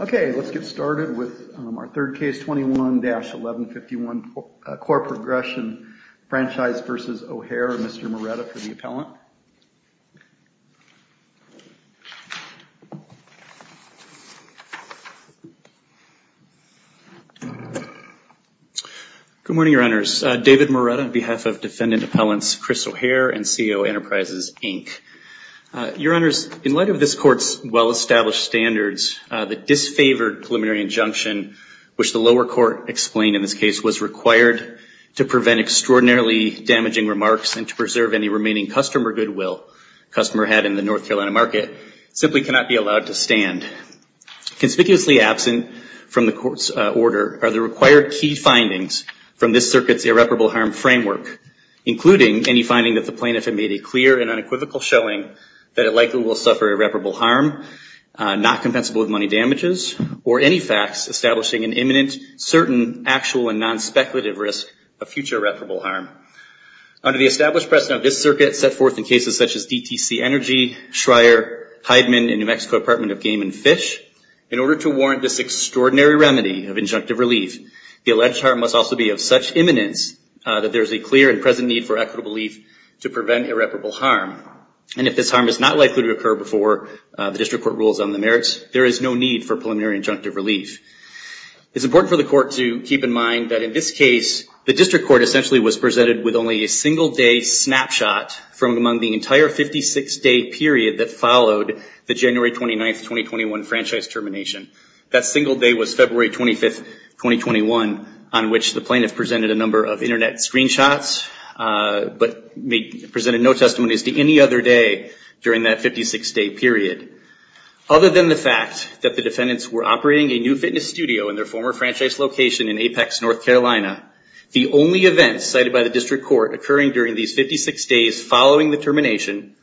Okay, let's get started with our third case, 21-1151 Core Progression Franchise v. O'Hare. Mr. Moretta for the appellant. Good morning, your honors. David Moretta on behalf of defendant appellants Chris O'Hare and CEO Enterprises Inc. Your honors, in light of this court's well established standards, the disfavored preliminary injunction, which the lower court explained in this case was required to prevent extraordinarily damaging remarks and to preserve any remaining customer goodwill customer had in the North Carolina market, simply cannot be allowed to stand. Conspicuously absent from the court's order are the required key findings from this circuit's irreparable harm framework, including any finding that the plaintiff had made a clear and unequivocal showing that it likely will suffer irreparable harm, not compensable with money damages, or any facts establishing an imminent, certain, actual, and non-speculative risk of future irreparable harm. Under the established precedent of this circuit set forth in cases such as DTC Energy, Schreyer, Hydeman, and New Mexico Department of Game and Fish, in order to warrant this extraordinary remedy of injunctive relief, the alleged harm must also be of such imminence that there is a clear and present need for equitable relief to prevent irreparable harm. And if this harm is not likely to occur before the district court rules on the merits, there is no need for preliminary injunctive relief. It's important for the court to keep in mind that in this case, the district court essentially was presented with only a single day snapshot from among the entire 56 day period that followed the January 29th, 2021 franchise termination. That single day was February 25th, 2021, on which the plaintiff presented a number of internet screenshots, but presented no testimonies to any other day during that 56 day period. Other than the fact that the defendants were operating a new fitness studio in their former franchise location in Apex, North Carolina, the only events cited by the district court occurring during these 56 days following the termination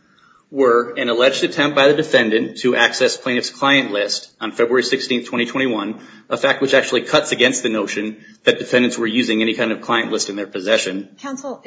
were an alleged attempt by the defendant to access plaintiff's client list on February 16th, 2021, a fact which actually cuts against the notion that defendants were using any kind of client list in their possession. Counsel,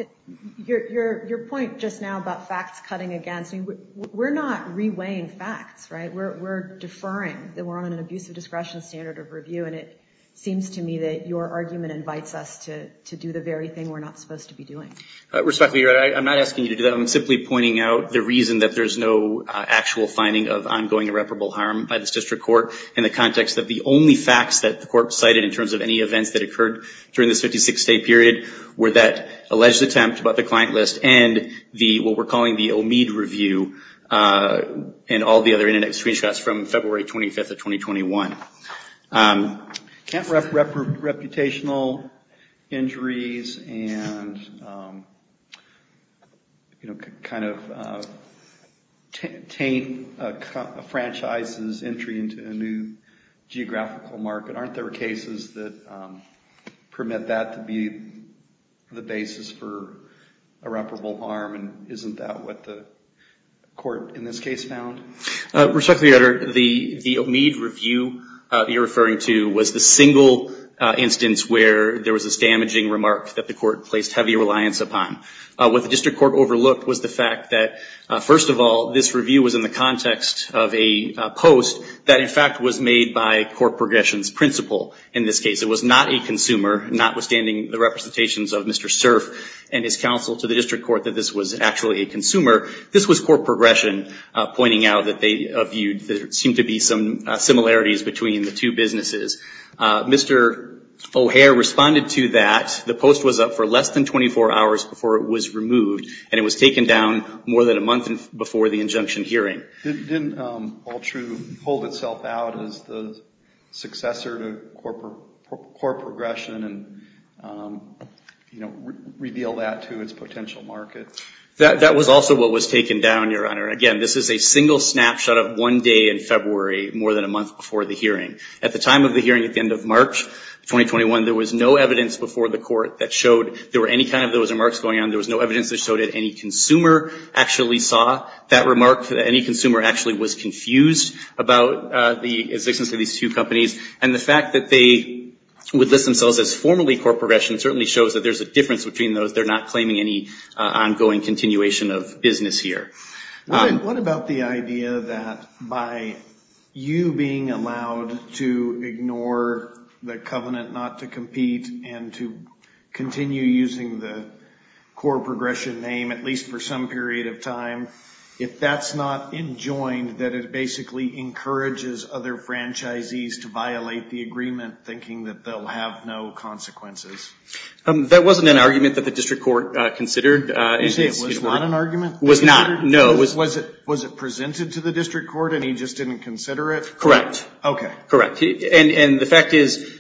your point just now about facts cutting against, we're not reweighing facts, right? We're deferring that we're on an abusive discretion standard of review. And it seems to me that your argument invites us to do the very thing we're not supposed to be doing. Respectfully, I'm not asking you to do that. I'm simply pointing out the reason that there's no actual finding of ongoing irreparable harm by this district court in the context that the only facts that the court cited in terms of any events that occurred during this 56 day period were that alleged attempt about the client list and what we're calling the Omid review and all the other internet screenshots from February 25th of 2021. Can't rep reputational injuries and kind of taint a franchise's entry into a new geographical market? Aren't there cases that permit that to be the basis for irreparable harm? And isn't that what the court in this case found? Respectfully, Your Honor, the Omid review you're referring to was the single instance where there was this damaging remark that the court placed heavy reliance upon. What the district court overlooked was the fact that, first of all, this review was in the context of a post that, in fact, was made by court progression's principle. In this case, it was not a consumer, notwithstanding the representations of Mr. Cerf and his counsel to the district court that this was actually a consumer. This was court progression pointing out that there seemed to be some similarities between the two businesses. Mr. O'Hare responded to that. The post was up for less than 24 hours before it was removed and it was taken down more than a month before the injunction hearing. Didn't Altru hold itself out as the successor to court progression and reveal that to its potential market? That was also what was taken down, Your Honor. Again, this is a single snapshot of one day in February, more than a month before the hearing. At the time of the hearing at the end of March 2021, there was no evidence before the court that showed there were any kind of those remarks going on. There was no evidence that showed that any consumer actually saw that remark, that any consumer actually was confused about the existence of these two companies. And the fact that they would list themselves as formerly court progression certainly shows that there's a difference between those. They're not claiming any difference. What about the idea that by you being allowed to ignore the covenant not to compete and to continue using the court progression name, at least for some period of time, if that's not enjoined, that it basically encourages other franchisees to violate the agreement thinking that they'll have no consequences? That wasn't an argument that the district court considered. You say it was not an argument? Was not, no. Was it presented to the district court and he just didn't consider it? Correct. Okay. Correct. And the fact is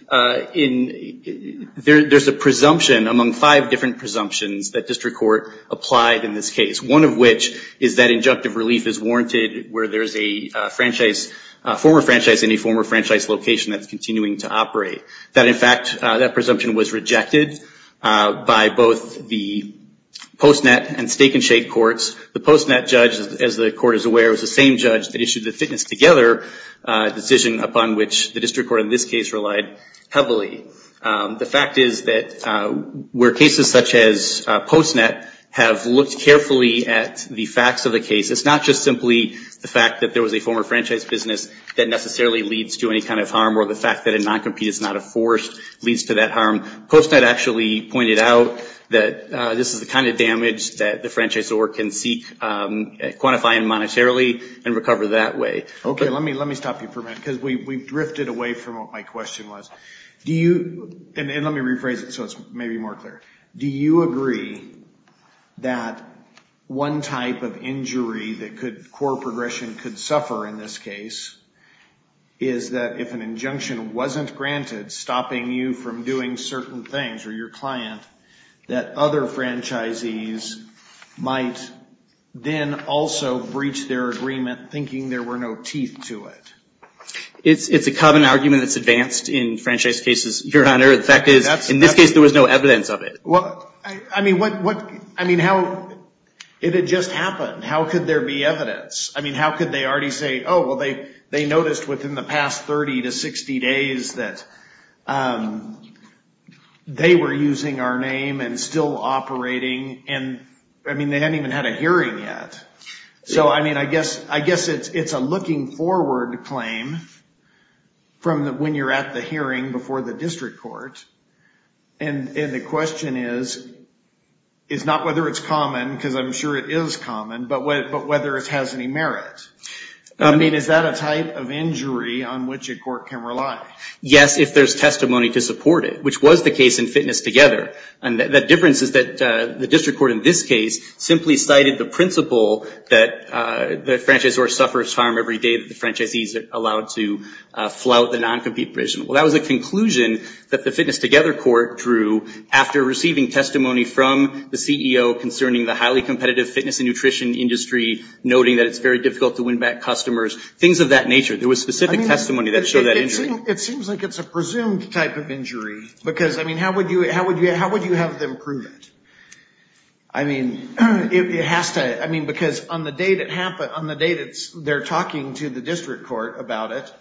there's a presumption among five different presumptions that district court applied in this case. One of which is that injunctive relief is warranted where there's a franchise, a former franchise in a former franchise location that's continuing to operate. That in fact, that presumption was rejected by both the post-net and stake and shake courts. The post-net judge, as the court is aware, was the same judge that issued the fitness together decision upon which the district court in this case relied heavily. The fact is that where cases such as post-net have looked carefully at the facts of the case, it's not just simply the fact that there was a former franchise business that necessarily leads to any kind of harm or the fact that a non-compete is not a force leads to that harm. Post-net actually pointed out that this is the kind of damage that the franchise or can seek, quantify and monetarily and recover that way. Okay. Let me stop you for a minute because we've drifted away from what my question was. Do you, and let me rephrase it so it's maybe more clear. Do you agree that one type of injury that could, core progression could suffer in this case is that if an injunction wasn't granted, stopping you from doing certain things or your client, that other franchisees might then also breach their agreement thinking there were no teeth to it? It's a common argument that's advanced in franchise cases, Your Honor. The fact is, in this case, there was no evidence of it. Well, I mean, what, what, I mean, how, it had just happened. How could there be evidence? I mean, how could they already say, oh, well, they, they noticed within the past 30 to 60 days that they were using our name and still operating. And I mean, they hadn't even had a hearing yet. So, I mean, I guess, I guess it's, it's a looking forward claim from the, when you're at the hearing before the district court. And, and the question is, is not whether it's common, because I'm sure it is common, but whether it has any merit. I mean, is that a type of injury on which a court can rely? Yes, if there's testimony to support it, which was the case in Fitness Together. And the difference is that the district court in this case simply cited the principle that the franchisor suffers harm every day that the franchisees are allowed to flout the non-compete provision. Well, that was a conclusion that the Fitness Together court drew after receiving testimony from the CEO concerning the highly competitive fitness and nutrition industry, noting that it's very difficult to win back customers, things of that nature. There was specific testimony that showed that injury. It seems like it's a presumed type of injury, because, I mean, how would you, how would you, how would you have them prove it? I mean, it has to, I mean, because on the day that happened, on the day that they're talking to the district court about it,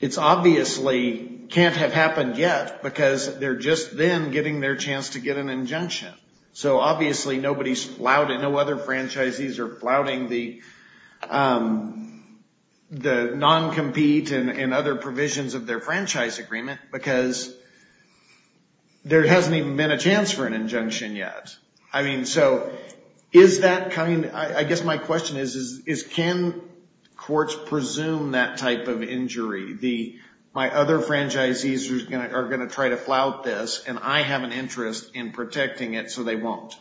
it's obviously can't have happened yet, because they're just then getting their chance to get an injunction. So obviously nobody's flouted, no other franchisees are flouting the non-compete and other provisions of their franchise agreement, because there hasn't even been a chance for an injunction yet. I mean, so is that kind, I guess my question is, is can courts presume that type of injury? The, my other franchisees are going to try to protect it so they won't.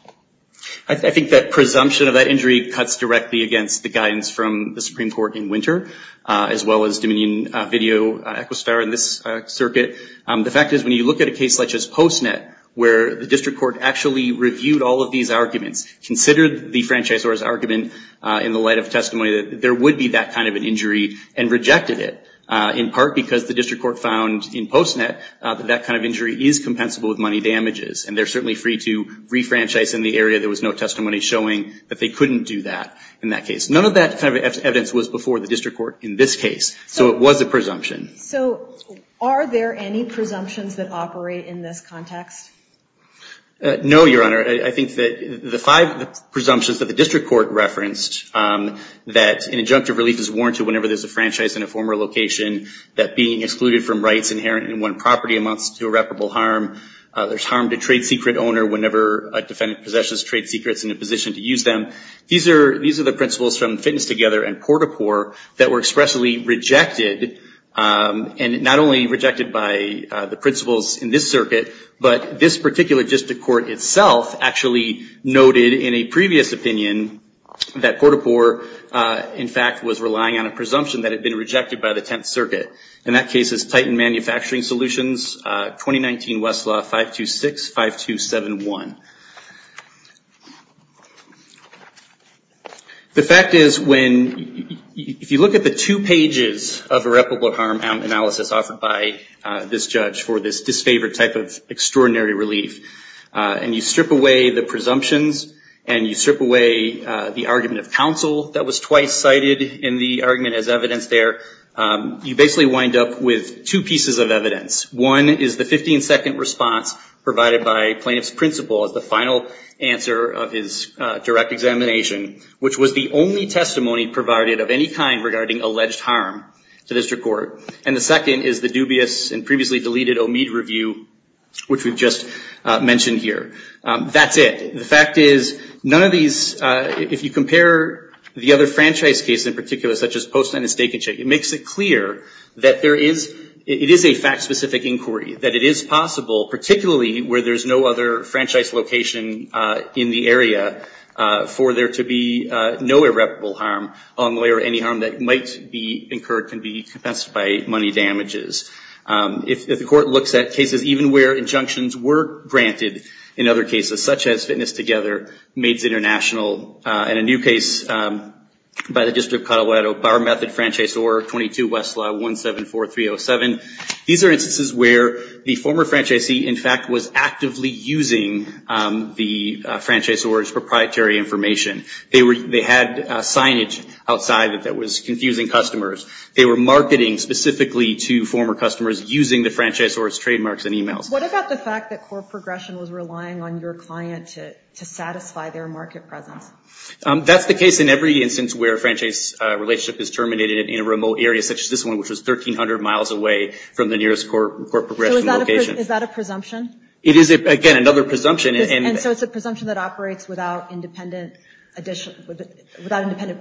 I think that presumption of that injury cuts directly against the guidance from the Supreme Court in winter, as well as Dominion Video, Equistar, and this circuit. The fact is, when you look at a case such as PostNet, where the district court actually reviewed all of these arguments, considered the franchisor's argument in the light of testimony that there would be that kind of an injury, and rejected it, in part because the district court found in PostNet that that kind of injury is compensable with money damages, and there certainly free to re-franchise in the area, there was no testimony showing that they couldn't do that in that case. None of that kind of evidence was before the district court in this case, so it was a presumption. So are there any presumptions that operate in this context? No, Your Honor. I think that the five presumptions that the district court referenced, that an injunctive relief is warranted whenever there's a franchise in a former location, that being excluded from rights inherent in one property amounts to irreparable harm, there's harm to trade secret owner whenever a defendant possesses trade secrets in a position to use them. These are the principles from Fitness Together and Port-a-Port that were expressly rejected, and not only rejected by the principles in this circuit, but this particular district court itself actually noted in a previous opinion that Port-a-Port, in fact, was relying on a presumption that had been rejected by the Tenth Circuit. In that case, it's Titan Manufacturing Solutions, 2019 Westlaw 526-5271. The fact is, if you look at the two pages of irreparable harm analysis offered by this judge for this disfavored type of extraordinary relief, and you strip away the presumptions, and you strip away the argument of counsel that was twice cited in the argument as evidence there, you basically wind up with two pieces of evidence. One is the 15-second response provided by plaintiff's principal as the final answer of his direct examination, which was the only testimony provided of any kind regarding alleged harm to district court, and the second is the dubious and previously deleted Omid review, which we've just mentioned here. That's it. The fact is, none of these, if you compare the other franchise cases in particular, such as post-sentence staking check, it makes it clear that there is, it is a fact-specific inquiry, that it is possible, particularly where there's no other franchise location in the area, for there to be no irreparable harm on the lawyer, any harm that might be incurred can be compensated by money damages. If the court looks at cases even where injunctions were granted in other cases, such as Fitness Together, Maids International, and a new case by the District of Colorado, Bar Method Franchise Order 22 Westlaw 174307, these are instances where the former franchisee, in fact, was actively using the franchisee's proprietary information. They had signage outside that was confusing customers. They were marketing specifically to former customers using the franchise or its trademarks and emails. What about the fact that court progression was relying on your client to satisfy their market presence? That's the case in every instance where a franchise relationship is terminated in a remote area, such as this one, which was 1300 miles away from the nearest court progression location. Is that a presumption? It is, again, another presumption. And so it's a presumption that operates without independent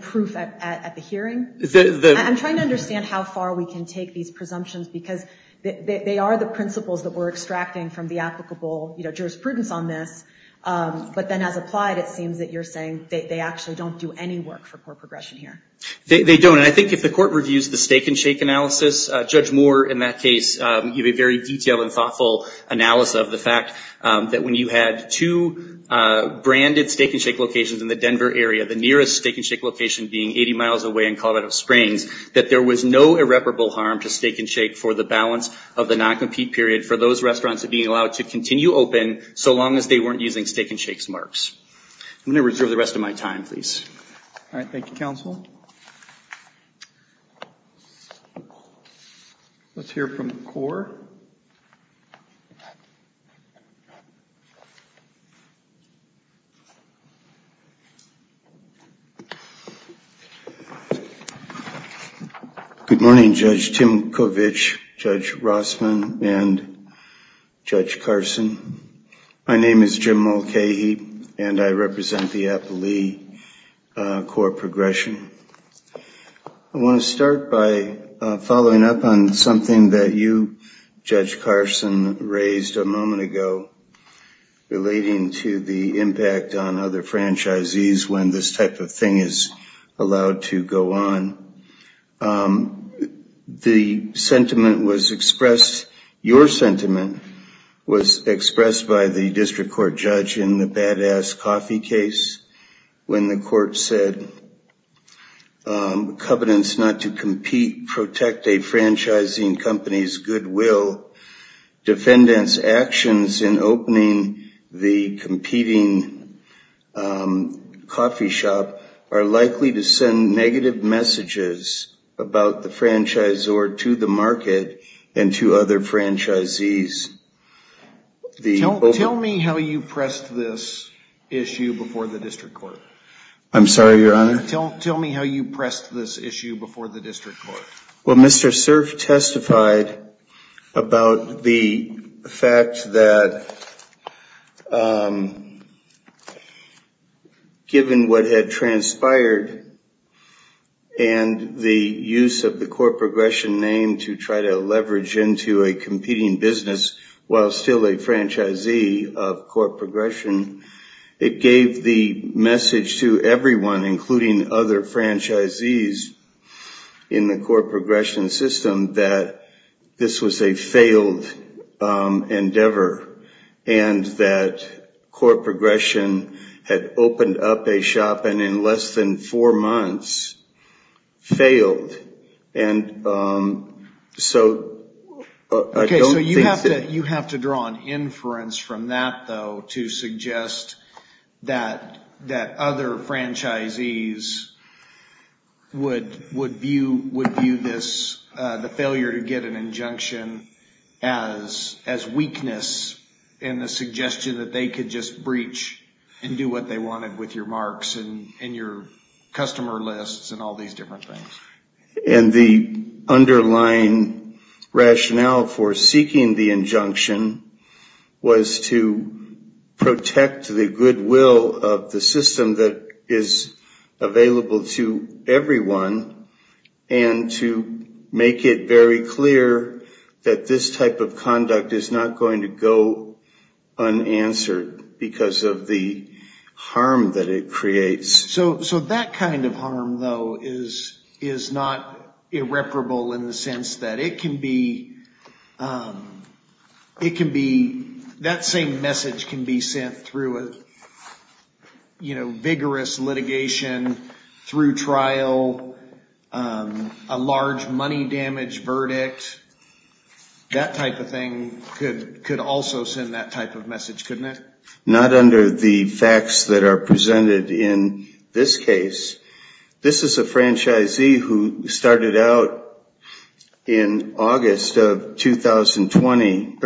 proof at the hearing. I'm trying to understand how far we can take these presumptions because they are the principles that we're extracting from the applicable jurisprudence on this. But then as applied, it seems that you're saying they actually don't do any work for court progression here. They don't. And I think if the court reviews the stake and shake analysis, Judge Moore, in that case, gave a very detailed and thoughtful analysis of the fact that when you had two branded stake and shake locations in the Denver area, the nearest stake and shake location being 80 miles away in Colorado Springs, that there was no irreparable harm to stake and shake for the balance of the non-compete period for those restaurants that being allowed to continue open so long as they weren't using stake and shakes marks. I'm going to reserve the rest of my time, please. All right. Thank you, counsel. Let's hear from the court. Good morning, Judge Timkovich, Judge Rossman, and Judge Carson. My name is Jim Mulcahy, and I represent the Appalee Court Progression. I want to start by following up on something that you, Judge Carson, raised a moment ago relating to the impact on other franchisees when this type of thing is allowed to go on. The sentiment was expressed, your sentiment was expressed by the badass coffee case when the court said, covenants not to compete protect a franchising company's goodwill. Defendants' actions in opening the competing coffee shop are likely to send negative messages about the franchisor to the market and to other franchisees. Tell me how you pressed this issue before the district court. I'm sorry, your honor? Tell me how you pressed this issue before the district court. Well, Mr. Cerf testified about the fact that given what had transpired and the use of the court progression name to try to leverage into a competing business while still a franchisee of court progression, it gave the message to everyone, including other franchisees in the court progression system, that this was a failed endeavor and that court progression had opened up a shop and in less than four months failed. And so I don't think... Okay, so you have to draw an inference from that though to suggest that other franchisees would view the failure to get an injunction as weakness in the suggestion that they could just breach and do what they wanted with your marks and your customer lists and all of that. The underlying rationale for seeking the injunction was to protect the goodwill of the system that is available to everyone and to make it very clear that this type of conduct is not going to go unanswered because of the harm that it creates. So that kind of harm though is not irreparable in the sense that it can be... That same message can be sent through a vigorous litigation, through trial, a large money damage verdict. That type of thing could also send that type of message, couldn't it? Not under the facts that are out in August of 2020.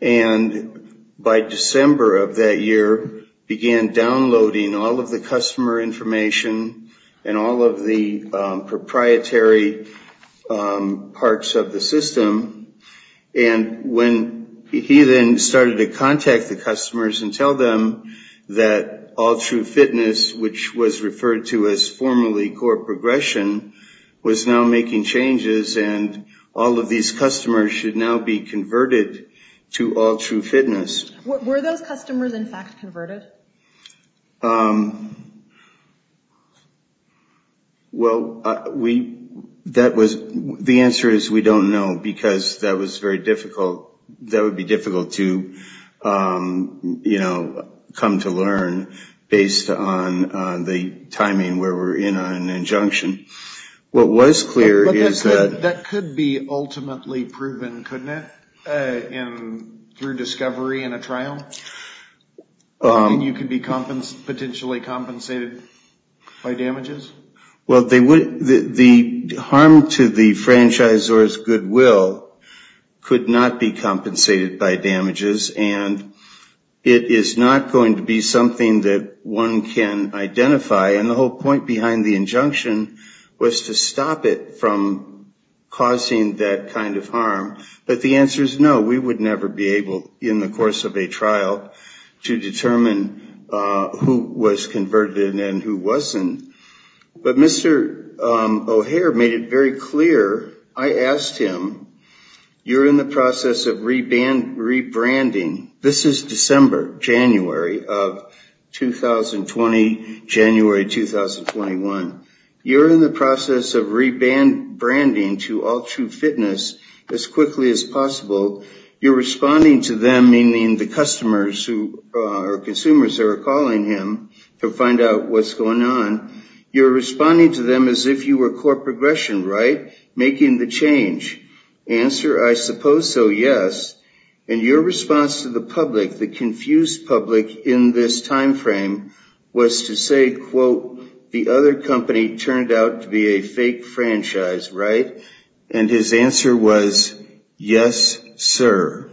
And by December of that year began downloading all of the customer information and all of the proprietary parts of the system. And when he then started to contact the customers and tell them that All True Fitness, which was referred to as formerly Core Progression, was now making changes and all of these customers should now be converted to All True Fitness... Were those customers in fact converted? Well, that was... The answer is we don't know because that was very difficult. That would be come to learn based on the timing where we're in an injunction. What was clear is that... That could be ultimately proven, couldn't it? Through discovery in a trial? And you could be potentially compensated by damages? Well, the harm to the franchisor's goodwill could not be compensated by damages and it is not going to be something that one can identify. And the whole point behind the injunction was to stop it from causing that kind of harm. But the answer is no, we would never be able in the course of a trial to determine who was converted and who wasn't. But Mr. O'Hare made it clear. I asked him, you're in the process of rebranding. This is December, January of 2020, January 2021. You're in the process of rebranding to All True Fitness as quickly as possible. You're responding to them, meaning the customers who are consumers that are calling him to find out what's going on. You're responding to them as if you were core progression, right? Making the change. Answer, I suppose so, yes. And your response to the public, the confused public in this timeframe, was to say, quote, the other company turned out to be a fake franchise, right? And his answer was, yes, sir.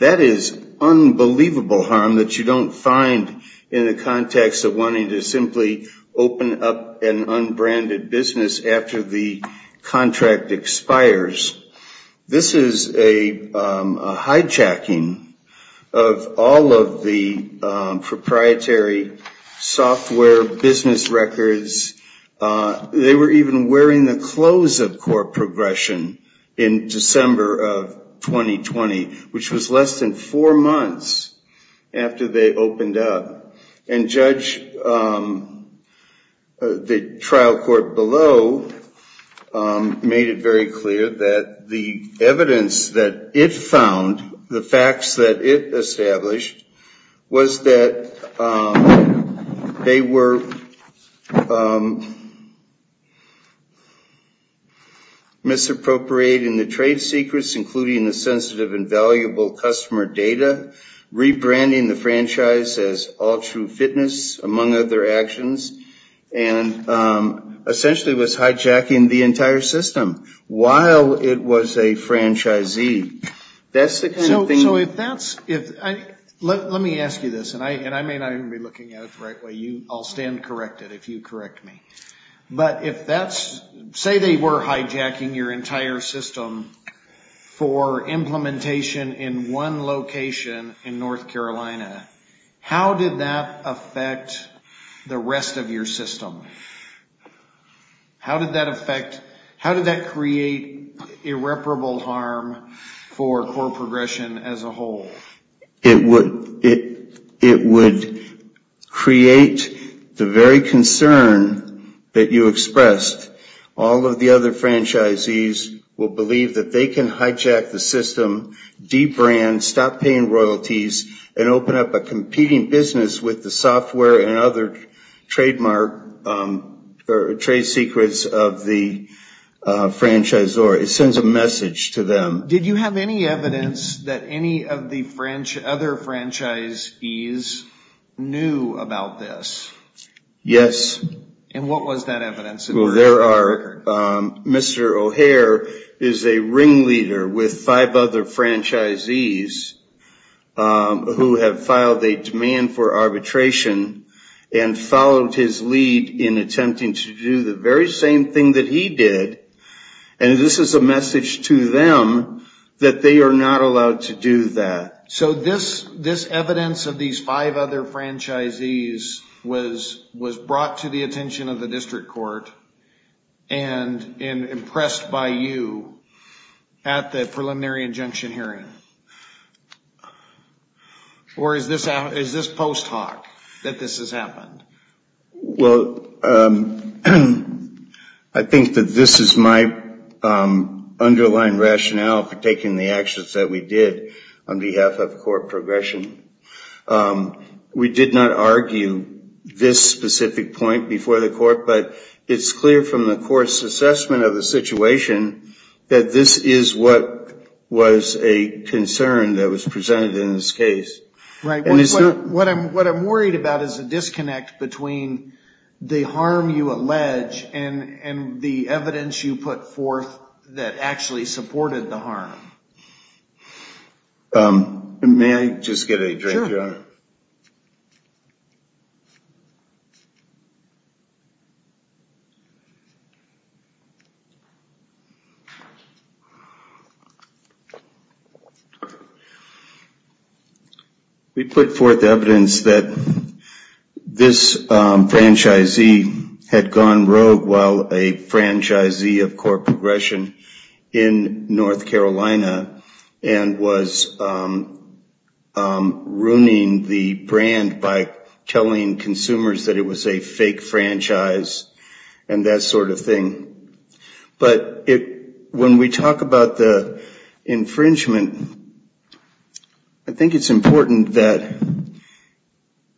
That is unbelievable harm that you don't find in the context of wanting to simply open up an unbranded business after the contract expires. This is a hijacking of all of the proprietary software business records. They were even wearing the clothes of core progression in December of 2020, which was less than four months after they opened up. And Judge, the trial court below, made it very clear that the evidence that it found, the facts that it established, was that they were misappropriating the trade secrets, including the sensitive and valuable customer data, rebranding the franchise as All True Fitness, among other actions, and essentially was hijacking the entire system while it was a franchisee. That's the kind of thing... So if that's... Let me ask you this, and I may not even be looking at it the right way. I'll stand corrected if you correct me. But if that's... Say they were hijacking your entire system for implementation in one location in North Carolina. How did that affect the rest of your system? How did that affect... How did that create irreparable harm for core progression as a whole? It would create the very concern that you expressed. All of the other franchisees will believe that they can hijack the system, de-brand, stop paying royalties, and open up a competing business with the software and other trademark or trade secrets of the franchisor. It sends a message to them. Did you have any evidence that any of the other franchisees knew about this? Yes. And what was that evidence? Well, there are... Mr. O'Hare is a ringleader with five other franchisees who have filed a demand for arbitration and followed his lead in attempting to do the very same thing that he did. And this is a message to them that they are not allowed to do that. So this evidence of these five other franchisees was brought to the attention of the district court and impressed by you at the preliminary injunction hearing? Or is this post-hoc, that this has happened? Well, I think that this is my underlying rationale for taking the actions that we did on behalf of core progression. We did not argue this specific point before the court, but it's clear from the court's assessment of the situation that this is what was a concern that was presented in this case. Right. What I'm worried about is a disconnect between the harm you allege and the evidence you put forth that actually supported the harm. May I just get a drink, Your Honor? We put forth evidence that this franchisee had gone rogue while a and was ruining the brand by telling consumers that it was a fake franchise and that sort of thing. But when we talk about the infringement, I think it's important that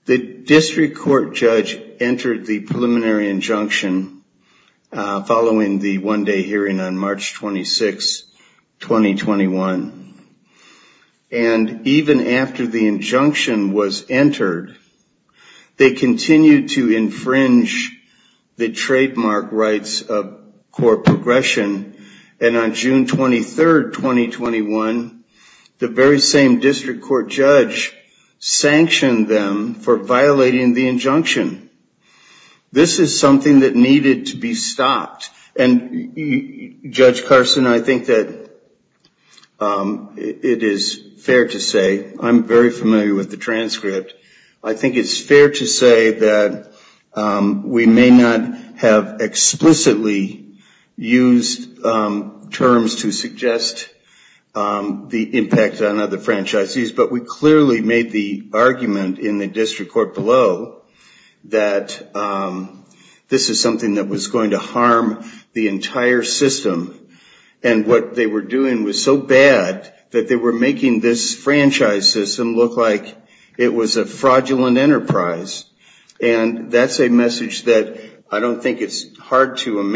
the district court judge entered the preliminary injunction following the one day hearing on March 26, 2021. And even after the injunction was entered, they continued to infringe the trademark rights of core progression. And on June 23rd, 2021, the very same district court judge sanctioned them for violating the injunction. This is something that needed to be stopped. And Judge Carson, I think that it is fair to say, I'm very familiar with the transcript. I think it's fair to say that we may not have explicitly used terms to suggest the impact on other franchisees, but we clearly made the argument in the district court below that this is something that was going to harm the entire system. And what they were doing was so bad that they were making this franchise system look like it was a fraudulent enterprise. And that's a message that I don't think it's hard to It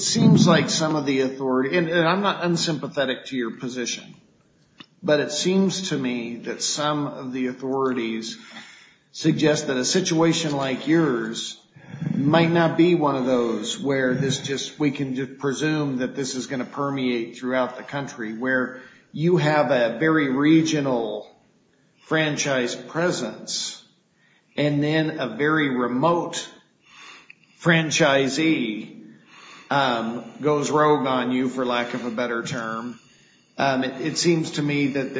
seems like some of the authority, and I'm not unsympathetic to your position, but it seems to me that some of the authorities suggest that a situation like yours might not be one of those where this just, we can just presume that this is going to permeate throughout the country, where you have a very regional franchise presence and then a very remote franchisee goes rogue on you, for lack of a better term. It seems to me that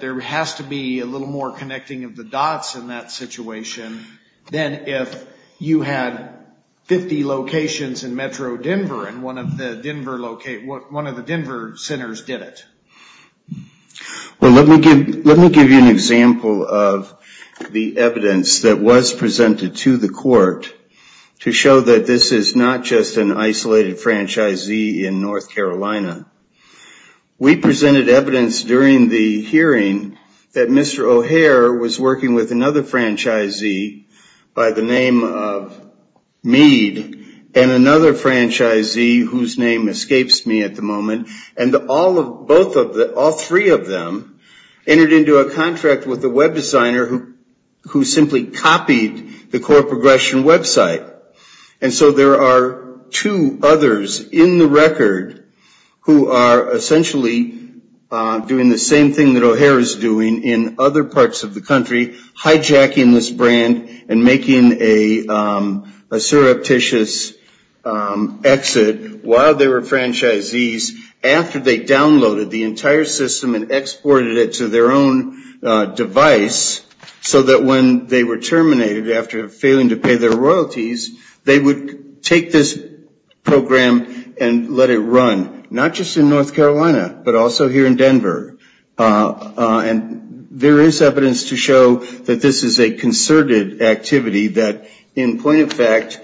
there has to be a little more connecting of the dots in that situation than if you had 50 locations in Metro Denver and one of the Denver centers did it. Well, let me give you an example of the evidence that was presented to the court to show that this is not just an isolated franchisee in North Carolina. We presented evidence during the hearing that Mr. O'Hare was working with another franchisee by the name of Meade and another franchisee whose name escapes me at the moment, and all three of them entered into a contract with a web designer who simply copied the core progression website. And so there are two others in the record who are essentially doing the same thing that O'Hare is doing in other parts of the country, hijacking this brand and making a surreptitious exit while they were franchisees after they downloaded the entire system and exported it to their own device so that when they were terminated after failing to pay their royalties, they would take this program and let it run, not just in North Carolina, but also here in Denver. And there is evidence to show that this is a concerted activity that, in point of fact,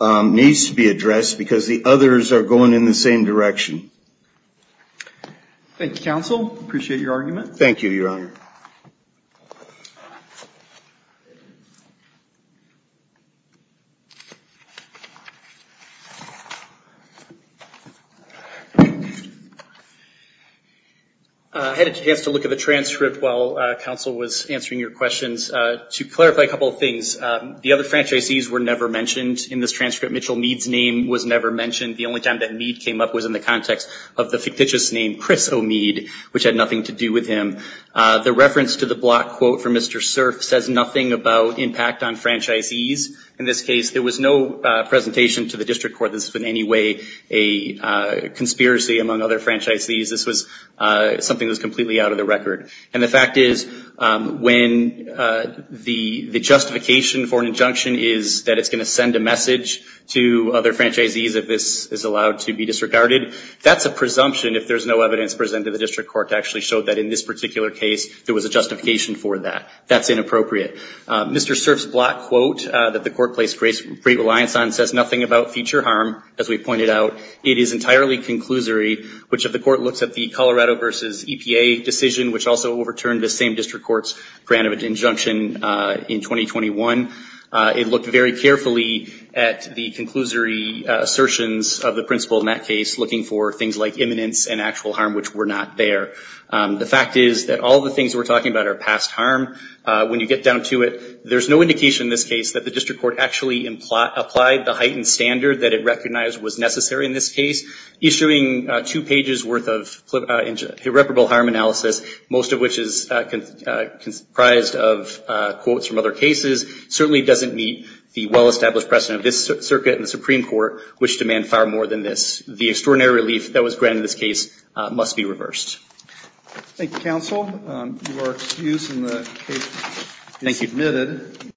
needs to be addressed because the others are going in the same direction. Thank you, counsel. I appreciate your argument. Thank you, Your Honor. I had a chance to look at the transcript while counsel was answering your questions. To clarify a couple of things, the other franchisees were never mentioned in this transcript. Mitchell Meade's name was never mentioned. The only time that Meade came up was in the context of the fictitious name Chris O'Meade, which had nothing to do with him. The reference to the block quote from Mr. Cerf says nothing about impact on franchisees. In this case, there was no presentation to the district court that this was in any way a conspiracy among other franchisees. This was something that was completely out of the record. And the fact is, when the justification for an injunction is that it's going to send a message to other franchisees if this is allowed to be disregarded, that's a presumption if there's no evidence presented to the district court to actually show that in this particular case there was a justification for that. That's inappropriate. Mr. Cerf's block quote that the court placed great reliance on says nothing about future harm, as we pointed out. It is overturned the same district court's grant of injunction in 2021. It looked very carefully at the conclusory assertions of the principle in that case, looking for things like imminence and actual harm, which were not there. The fact is that all the things we're talking about are past harm. When you get down to it, there's no indication in this case that the district court actually applied the heightened standard that it recognized was necessary in this case. Issuing two pages' worth of irreparable harm analysis, most of which is comprised of quotes from other cases, certainly doesn't meet the well-established precedent of this circuit and the Supreme Court, which demand far more than this. The extraordinary relief that was granted in this case must be reversed. Thank you, counsel. You are excused.